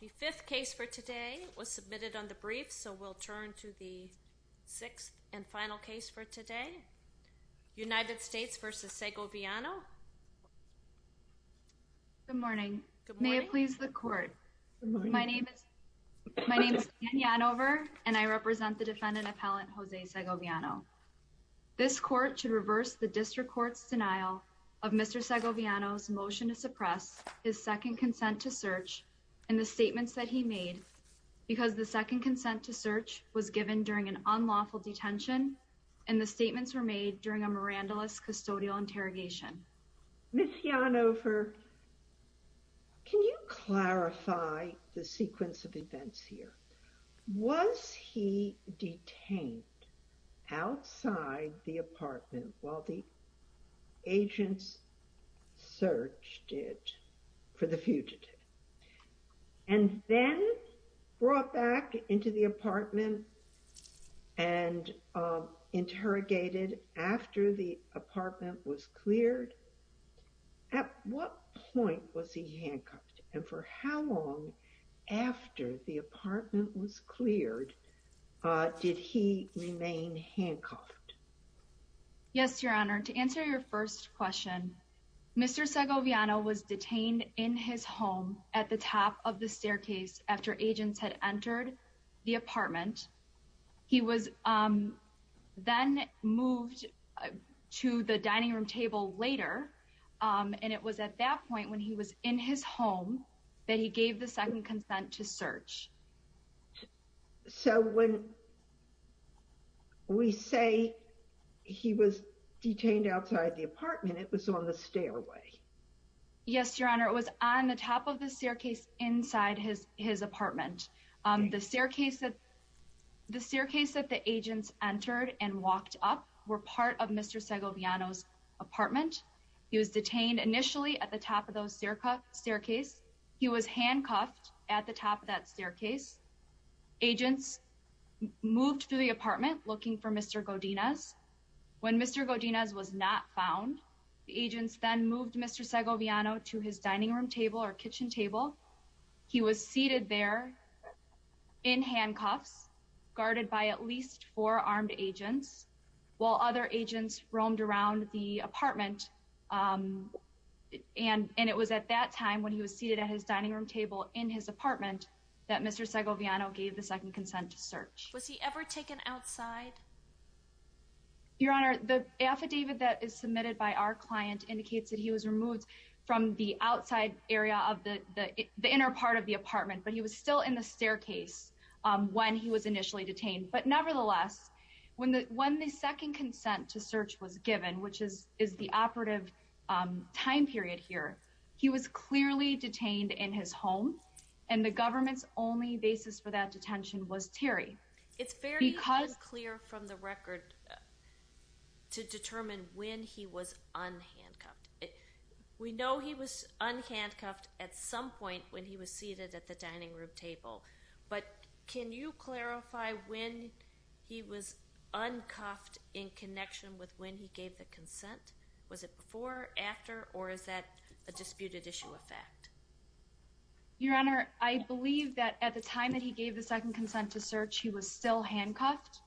The fifth case for today was submitted on the brief so we'll turn to the sixth and final case for today. United States v. Segoviano. Good morning. May it please the court. My name is Jenny Anover and I represent the defendant appellant Jose Segoviano. This court should reverse the district court's motion to suppress his second consent to search and the statements that he made because the second consent to search was given during an unlawful detention and the statements were made during a mirandolous custodial interrogation. Ms. Anover, can you clarify the sequence of the search for the fugitive and then brought back into the apartment and interrogated after the apartment was cleared? At what point was he handcuffed and for how long after the apartment was cleared did he remain handcuffed? Yes, your honor. To answer your first question, Mr. Segoviano was detained in his home at the top of the staircase after agents had entered the apartment. He was then moved to the dining room table later and it was at that point when he was in his home that he gave the second consent to search. So when we say he was detained outside the apartment, it was on the stairway. Yes, your honor. It was on the top of the staircase inside his apartment. The staircase that the agents entered and walked up were part of Mr. Segoviano's apartment. He was detained initially at the top of the staircase. He was handcuffed at the top of that staircase. Agents moved to the apartment looking for Mr. Godinez. When Mr. Godinez was not found, the agents then moved Mr. Segoviano to his dining room table or kitchen table. He was seated there in handcuffs guarded by at least four armed agents while other agents roamed around the apartment and it was at that time when he was seated at his dining room table in his apartment that Mr. Segoviano gave the second consent to search. Was he ever taken outside? Your honor, the affidavit that is submitted by our client indicates that he was removed from the outside area of the inner part of the apartment, but he was still in the staircase when he was initially detained. But nevertheless, when the second consent to search was given, which is the operative time period here, he was clearly detained in his home and the government's basis for that detention was Terry. It's very clear from the record to determine when he was unhandcuffed. We know he was unhandcuffed at some point when he was seated at the dining room table, but can you clarify when he was uncuffed in connection with when he gave the consent? Was it before, after, or is that a disputed issue of fact? Your honor, I believe that at the time that he gave the second consent to search, he was still handcuffed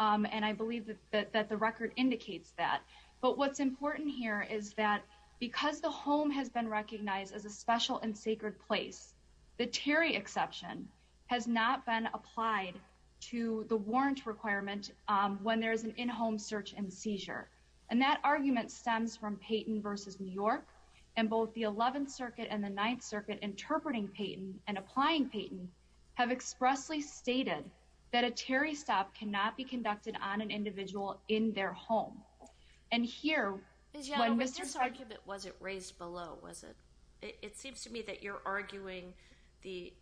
and I believe that the record indicates that. But what's important here is that because the home has been recognized as a special and sacred place, the Terry exception has not been applied to the warrant requirement when there is an in-home search and seizure. And that argument stems from Payton v. New York and both the 11th circuit and the 9th circuit interpreting Payton and applying Payton have expressly stated that a Terry stop cannot be conducted on an individual in their home. And here, when Mr. Sarkubit, was it raised below? It seems to me that you're arguing the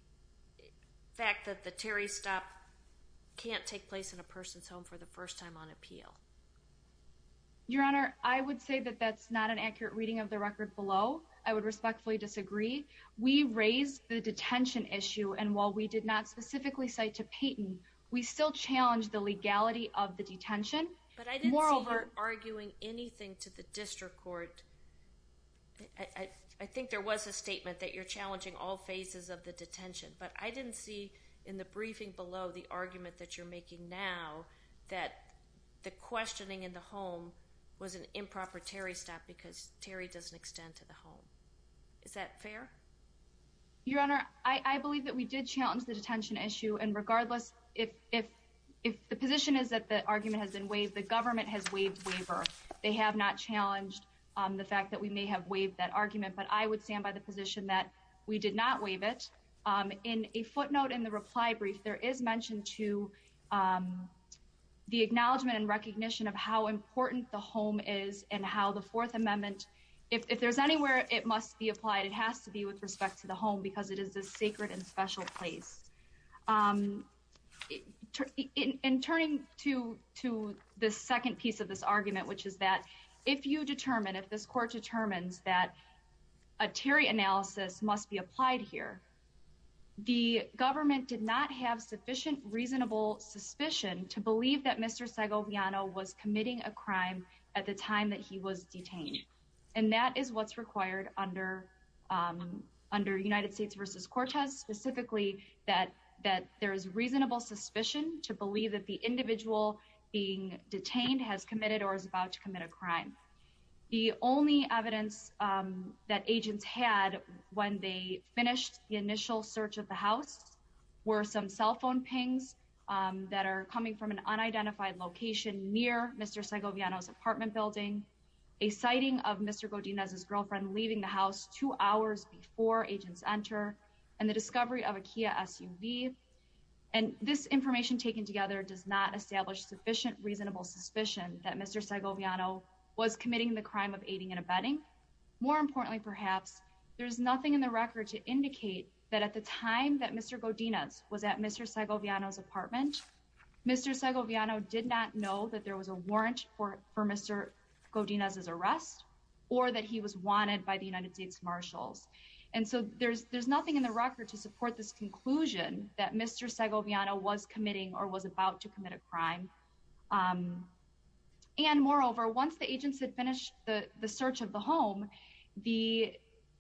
fact that the Terry stop can't take place in a person's home for the first time on appeal. Your honor, I would say that that's not an accurate reading of the record below. I would respectfully disagree. We raised the detention issue and while we did not specifically cite to Payton, we still challenged the legality of the detention. But I didn't see you arguing anything to the district court. I think there was a statement that you're challenging all phases of the detention, but I didn't see in the briefing below the argument that you're making now that the court questioning in the home was an improper Terry stop because Terry doesn't extend to the home. Is that fair? Your honor, I believe that we did challenge the detention issue and regardless if the position is that the argument has been waived, the government has waived waiver. They have not challenged the fact that we may have waived that argument, but I would stand by the position that we did not waive it. In a footnote in the reply brief, there is mentioned to the acknowledgement and recognition of how important the home is and how the 4th Amendment, if there's anywhere it must be applied, it has to be with respect to the home because it is this sacred and special place. In turning to the second piece of this argument, which is that if you determine, if this court determines that a Terry analysis must be applied here, the government did not have sufficient reasonable suspicion to believe that Mr. Segoviano was committing a crime at the time that he was detained and that is what's required under under United States versus Cortez, specifically that that there is reasonable suspicion to believe that the individual being detained has committed or is about to commit a crime. The only evidence that agents had when they finished the initial search of the house were some cell phone pings that are coming from an unidentified location near Mr. Segoviano's apartment building, a sighting of Mr. Godinez's girlfriend leaving the house two hours before agents enter, and the discovery of a Kia SUV, and this information taken together does not establish sufficient reasonable suspicion that Mr. Segoviano was committing the crime of aiding and abetting. More importantly, perhaps there's nothing in the record to indicate that at the time that Mr. Godinez was at Mr. Segoviano's apartment, Mr. Segoviano did not know that there was a warrant for Mr. Godinez's arrest or that he was wanted by the United States Marshals, and so there's nothing in the record to support this conclusion that Mr. Segoviano was committing or was about to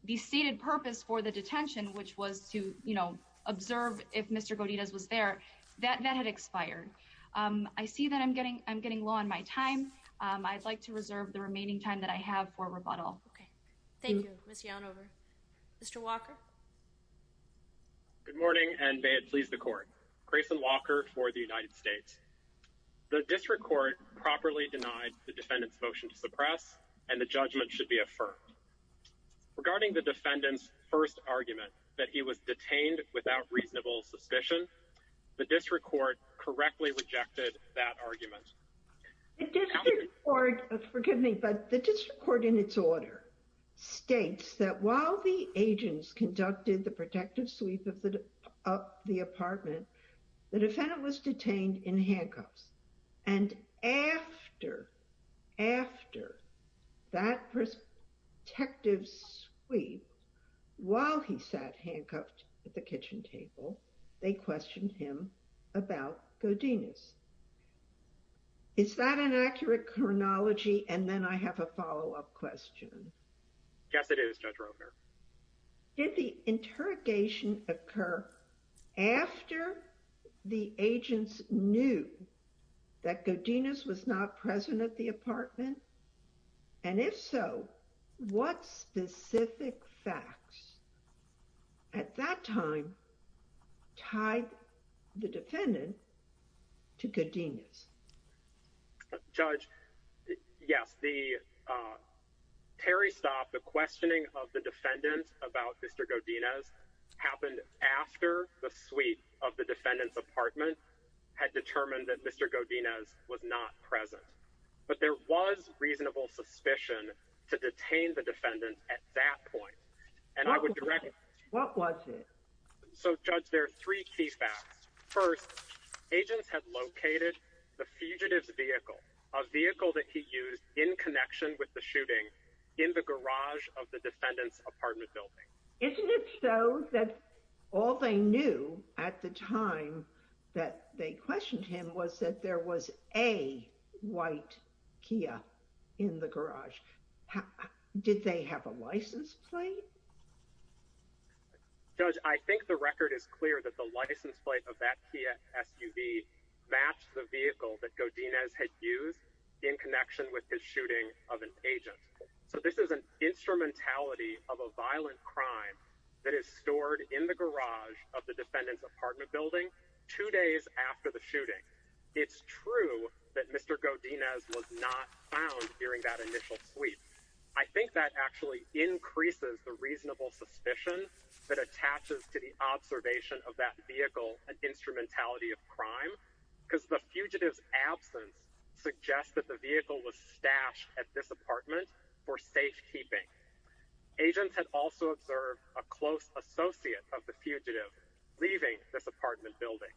The stated purpose for the detention, which was to, you know, observe if Mr. Godinez was there, that that had expired. I see that I'm getting I'm getting low on my time. I'd like to reserve the remaining time that I have for rebuttal. Okay, thank you. Ms. Yellen, over. Mr. Walker. Good morning, and may it please the court. Grayson Walker for the United States. The district court properly denied the defendant's motion to suppress, and the judgment should be affirmed. Regarding the defendant's first argument that he was detained without reasonable suspicion, the district court correctly rejected that argument. Forgive me, but the district court in its order states that while the agents conducted the that protective sweep while he sat handcuffed at the kitchen table, they questioned him about Godinez. Is that an accurate chronology? And then I have a follow-up question. Yes, it is. Judge Romer. Did the interrogation occur after the agents knew that Godinez was not present at the apartment? And if so, what specific facts at that time tied the defendant to Godinez? Judge. Yes, the Terry stop the questioning of the defendants about Mr. Godinez happened after the sweep of the defendant's apartment had determined that Mr. Godinez was not present. But there was reasonable suspicion to detain the defendant at that point, and I would direct. What was it? So, Judge, there are three key facts. First, agents had located the fugitive's vehicle, a vehicle that he used in connection with the shooting in the garage of the defendant's apartment building. Isn't it so that all they knew at the time that they a white Kia in the garage? Did they have a license plate? Judge, I think the record is clear that the license plate of that Kia SUV matched the vehicle that Godinez had used in connection with his shooting of an agent. So this is an instrumentality of a violent crime that is stored in the garage of the that Mr. Godinez was not found during that initial sweep. I think that actually increases the reasonable suspicion that attaches to the observation of that vehicle and instrumentality of crime because the fugitives absence suggest that the vehicle was stashed at this apartment for safekeeping. Agents had also observed a close associate of the fugitive leaving this apartment building.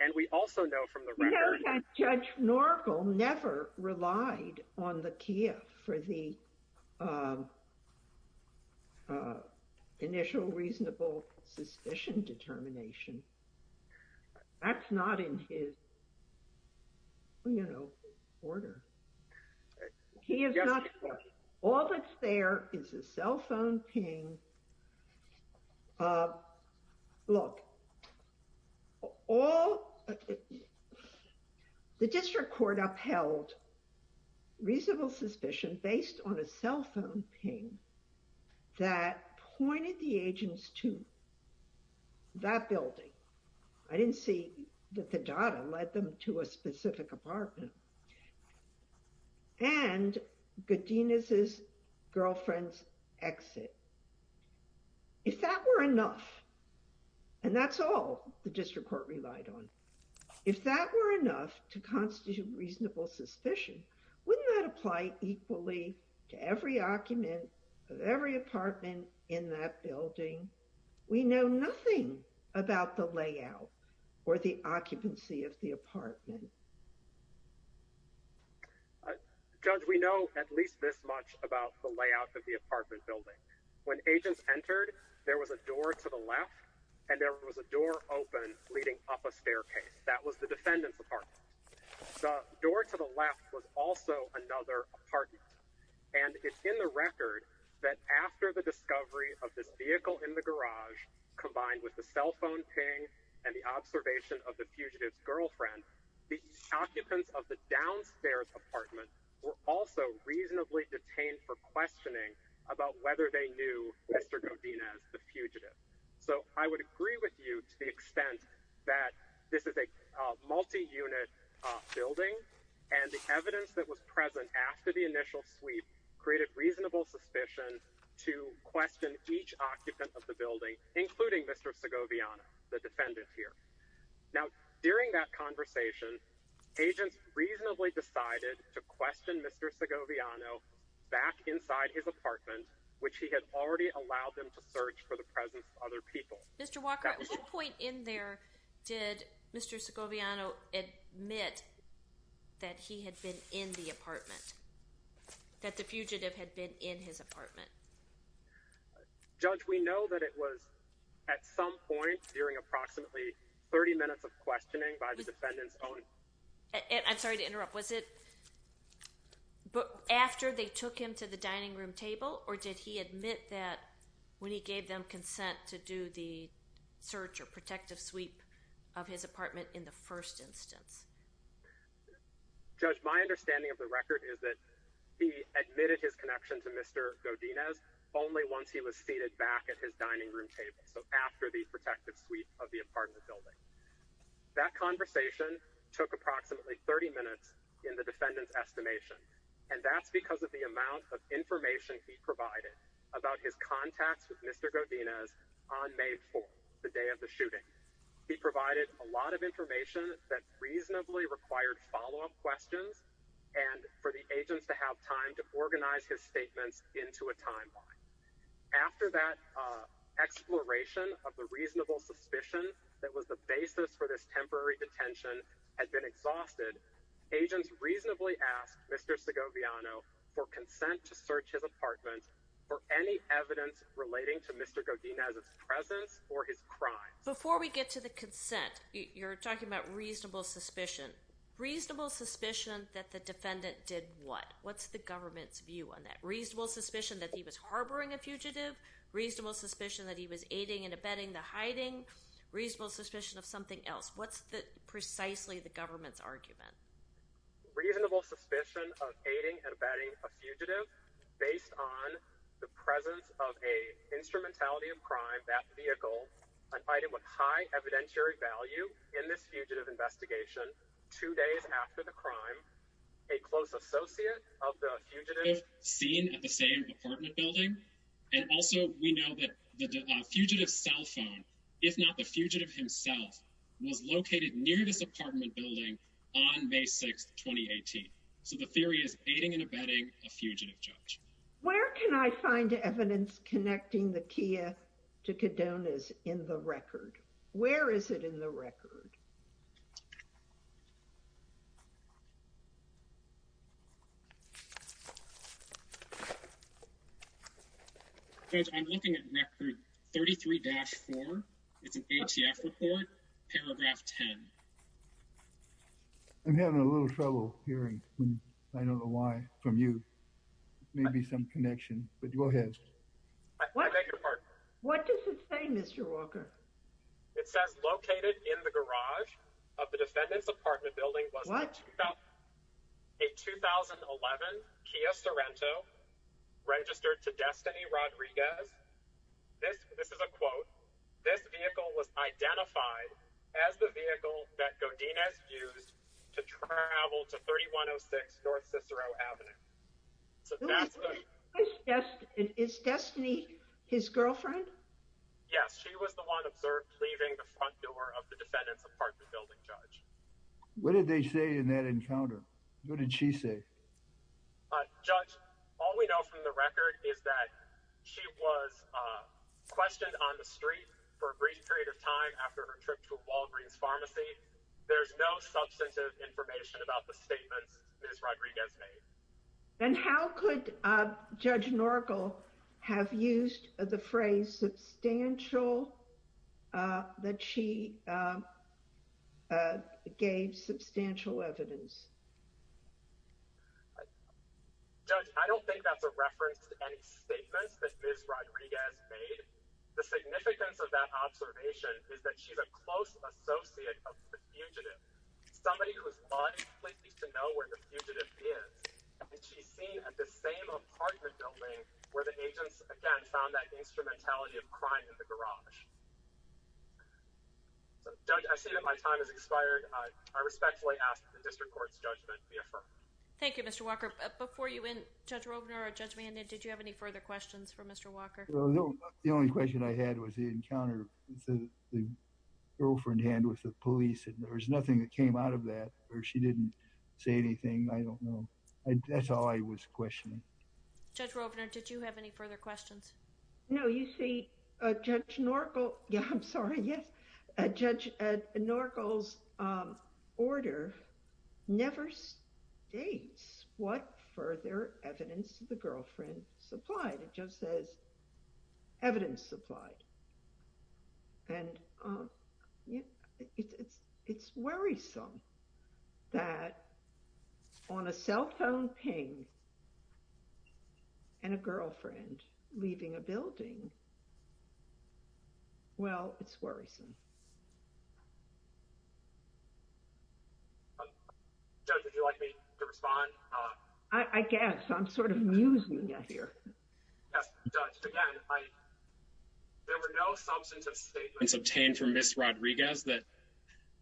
And we also know from the record that Judge Norco never relied on the Kia for the initial reasonable suspicion determination. That's not in his, you know, order. All that's there is a cell phone ping. Look, all the district court upheld reasonable suspicion based on a cell phone ping that pointed the agents to that building. I didn't see that the data led them to a specific apartment and Godinez's girlfriend's exit. If that were enough, and that's all the district court relied on, if that were enough to constitute reasonable suspicion, wouldn't that apply equally to every occupant of every apartment in that building? We know nothing about the layout or the occupancy of the apartment. Judge, we know at least this much about the layout of the apartment building. When agents entered, there was a door to the left and there was a door open leading up a staircase. That was the defendant's apartment. The door to the left was also another apartment. And it's in the record that after the discovery of this vehicle in the garage combined with the cell phone ping and the observation of the fugitive's girlfriend, the occupants of the downstairs apartment were also reasonably detained for questioning about whether they knew Mr. Godinez, the fugitive. So I would agree with you to the extent that this is a multi-unit building and the evidence that was present after the initial sweep created reasonable suspicion to question each occupant of the building, including Mr. Segoviano, the defendant here. Now, during that conversation, agents reasonably decided to question Mr. Segoviano back inside his apartment, which he had already allowed them to search for the presence of other people. Mr. Walker, at what point in there did Mr. Segoviano admit that he had been in the apartment, that the fugitive had been in his apartment? Judge, we know that it was at some point during approximately 30 minutes of questioning by the defendant's own... I'm sorry to interrupt. Was it after they took him to the dining room table, or did he admit that when he gave them consent to do the search or protective sweep of his apartment? The record is that he admitted his connection to Mr. Godinez only once he was seated back at his dining room table, so after the protective sweep of the apartment building. That conversation took approximately 30 minutes in the defendant's estimation, and that's because of the amount of information he provided about his contacts with Mr. Godinez on May 4th, the day of the shooting. He provided a lot of information that reasonably required follow-up questions and for the agents to have time to organize his statements into a timeline. After that exploration of the reasonable suspicion that was the basis for this temporary detention had been exhausted, agents reasonably asked Mr. Segoviano for consent to search his apartment for any evidence relating to Mr. Godinez's presence or his crimes. Before we get to the consent, you're talking about reasonable suspicion. Reasonable suspicion that the defendant did what? What's the government's view on that? Reasonable suspicion that he was harboring a fugitive? Reasonable suspicion that he was aiding and abetting the hiding? Reasonable suspicion of something else? What's the precisely the government's argument? Reasonable suspicion of aiding and abetting a fugitive based on the presence of a instrumentality of crime, that vehicle, an item with high evidentiary value in this fugitive investigation two days after the crime, a close associate of the fugitive seen at the same apartment building, and also we know that the fugitive's cell phone, if not the fugitive himself, was located near this apartment building on May 6th, 2018. So the theory is a fugitive. Where can I find evidence connecting the Kia to Godinez in the record? Where is it in the record? Judge, I'm looking at record 33-4. It's an ATF report, paragraph 10. I'm having a little trouble hearing. I don't know why from you. Maybe some connection, but go ahead. I beg your pardon. What does it say, Mr. Walker? It says located in the garage of the defendant's apartment building was a 2011 Kia Sorento registered to Destiny Rodriguez. This is a quote. This vehicle was identified as the vehicle that Godinez used to travel to 3106 North Cicero Avenue. Is Destiny his girlfriend? Yes, she was the one observed leaving the front door of the defendant's apartment building, Judge. What did they say in that encounter? What did she say? Judge, all we know from the record is that she was questioned on the street for a brief period of time after her trip to Walgreens Pharmacy. There's no substantive information about the statements Ms. Rodriguez made. And how could Judge Norgal have used the substantial, that she gave substantial evidence? Judge, I don't think that's a reference to any statements that Ms. Rodriguez made. The significance of that observation is that she's a close associate of the fugitive. Somebody whose body completely needs to know where the fugitive is. And she's seen at the same apartment building where the agents, again, found that instrumentality of crime in the garage. So, Judge, I see that my time has expired. I respectfully ask that the District Court's judgment be affirmed. Thank you, Mr. Walker. Before you end, Judge Robner or Judge Mahoney, did you have any further questions for Mr. Walker? Well, no. The only question I had was the encounter with the girlfriend hand with the police. And there was nothing that came out of that. Or Judge Robner, did you have any further questions? No. You see, Judge Norgal, yeah, I'm sorry. Yes. Judge Norgal's order never states what further evidence the girlfriend supplied. It just says and a girlfriend leaving a building. Well, it's worrisome. Judge, would you like me to respond? I guess. I'm sort of musing here. Yes, Judge. Again, there were no substantive statements obtained from Ms. Rodriguez that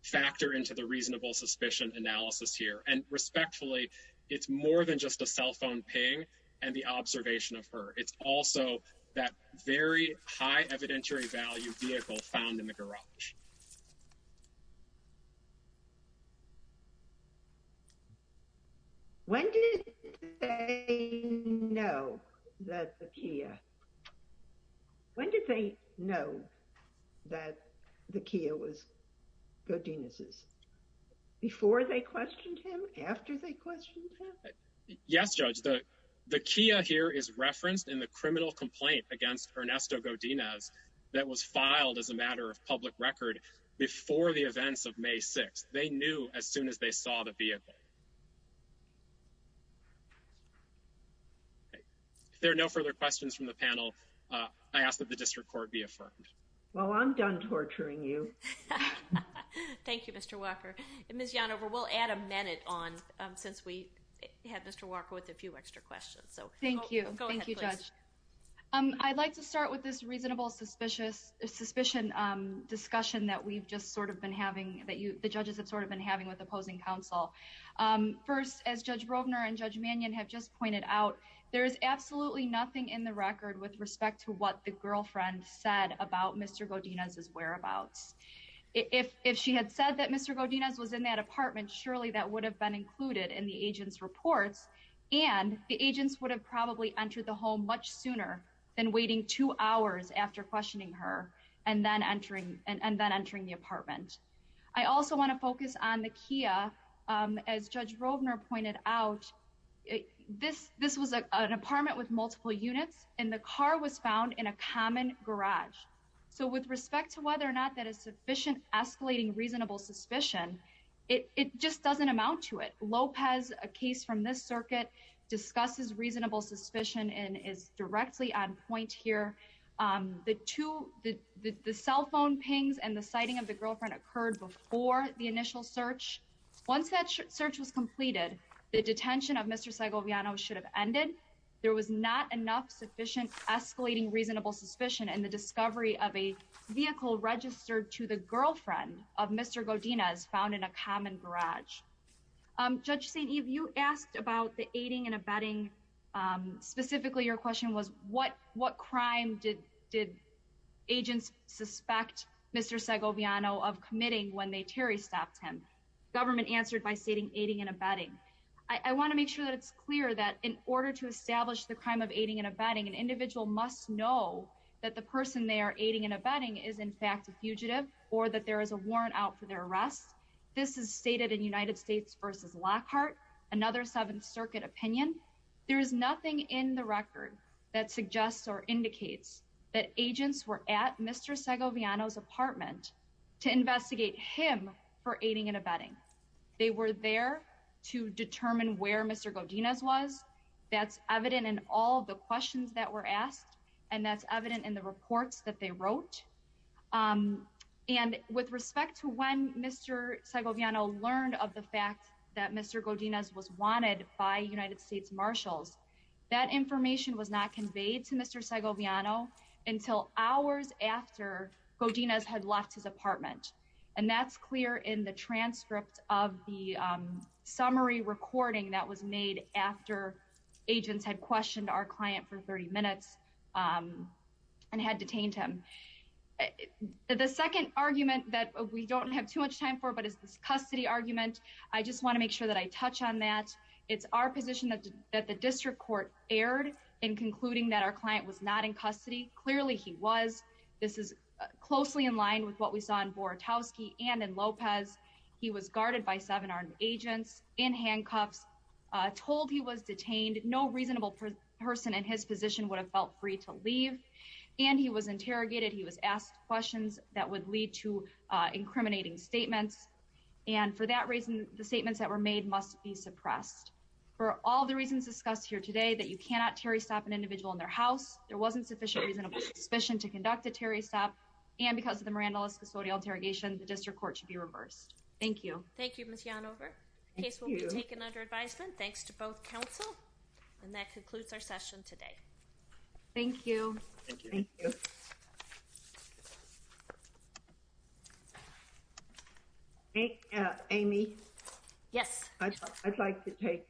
factor into the reasonable suspicion analysis here. And respectfully, it's more than just a cell phone ping and the observation of her. It's also that very high evidentiary value vehicle found in the garage. When did they know that the Kia... When did they know that the Kia was Godinez's? Before they questioned him? After they questioned him? Yes, Judge. The Kia here is referenced in the criminal complaint against Ernesto Godinez that was filed as a matter of public record before the events of May 6th. They knew as soon as they saw the vehicle. If there are no further questions from the panel, I ask that the district court be affirmed. Well, I'm done torturing you. Thank you, Mr. Walker. Ms. Yanova, we'll add a minute on since we had Mr. Walker with a few extra questions. So thank you. Thank you, Judge. I'd like to start with this reasonable suspicion discussion that we've just sort of been having, that the judges have sort of been having with opposing counsel. First, as Judge Rovner and Judge Mannion have just pointed out, there is absolutely nothing in the record with respect to what the girlfriend said about Mr. Godinez's whereabouts. If she had said that Mr. Godinez was in that apartment, surely that would have been included in the agent's reports and the agents would have probably entered the home much sooner than waiting two hours after questioning her and then entering the apartment. I also want to focus on the Kia. As Judge Rovner pointed out, this was an apartment with multiple units and the car was found in a common garage. So with respect to whether or not that is sufficient escalating reasonable suspicion, it just doesn't amount to it. Lopez, a case from this circuit, discusses reasonable suspicion and is directly on point here. The cell phone pings and the sighting of the girlfriend occurred before the initial search. Once that search was completed, the detention of Mr. Segoviano should have ended. There was not enough sufficient escalating reasonable suspicion in the discovery of a vehicle registered to the girlfriend of Mr. Godinez found in a common garage. Judge St. Eve, you asked about the aiding and abetting. Specifically, your question was what crime did agents suspect Mr. Segoviano of committing when Terry stopped him? The government answered by stating aiding and abetting. I want to make sure that it's clear that in order to establish the crime of aiding and abetting, an individual must know that the person they are aiding and abetting is in fact a fugitive or that there is a warrant out for their arrest. This is stated in United States v. Lockhart, another Seventh Circuit opinion. There is nothing in the record that suggests or indicates that agents were at Mr. Segoviano's apartment. They were there to determine where Mr. Godinez was. That's evident in all the questions that were asked, and that's evident in the reports that they wrote. With respect to when Mr. Segoviano learned of the fact that Mr. Godinez was wanted by United States Marshals, that information was not conveyed to Mr. Segoviano until hours after Godinez had left his apartment, and that's clear in the transcript of the summary recording that was made after agents had questioned our client for 30 minutes and had detained him. The second argument that we don't have too much time for, but it's this custody argument, I just want to make sure that I touch on that. It's our position that the district court erred in concluding that our client was not in custody. Clearly he was. This is closely in line with what we saw in Borutowski and in Lopez. He was guarded by seven armed agents in handcuffs, told he was detained. No reasonable person in his position would have felt free to leave, and he was interrogated. He was asked questions that would lead to incriminating statements, and for that reason, the statements that were made must be suppressed. For all the reasons discussed here today, that you cannot terry stop an individual in their house, there wasn't sufficient reasonable suspicion to conduct a terry stop, and because of the Miranda List custodial interrogation, the district court should be reversed. Thank you. Thank you, Ms. Yanover. The case will be taken under advisement, thanks to both counsel, and that concludes our session today. Thank you. Thank you. Thank you. Amy? Yes. I'd like to take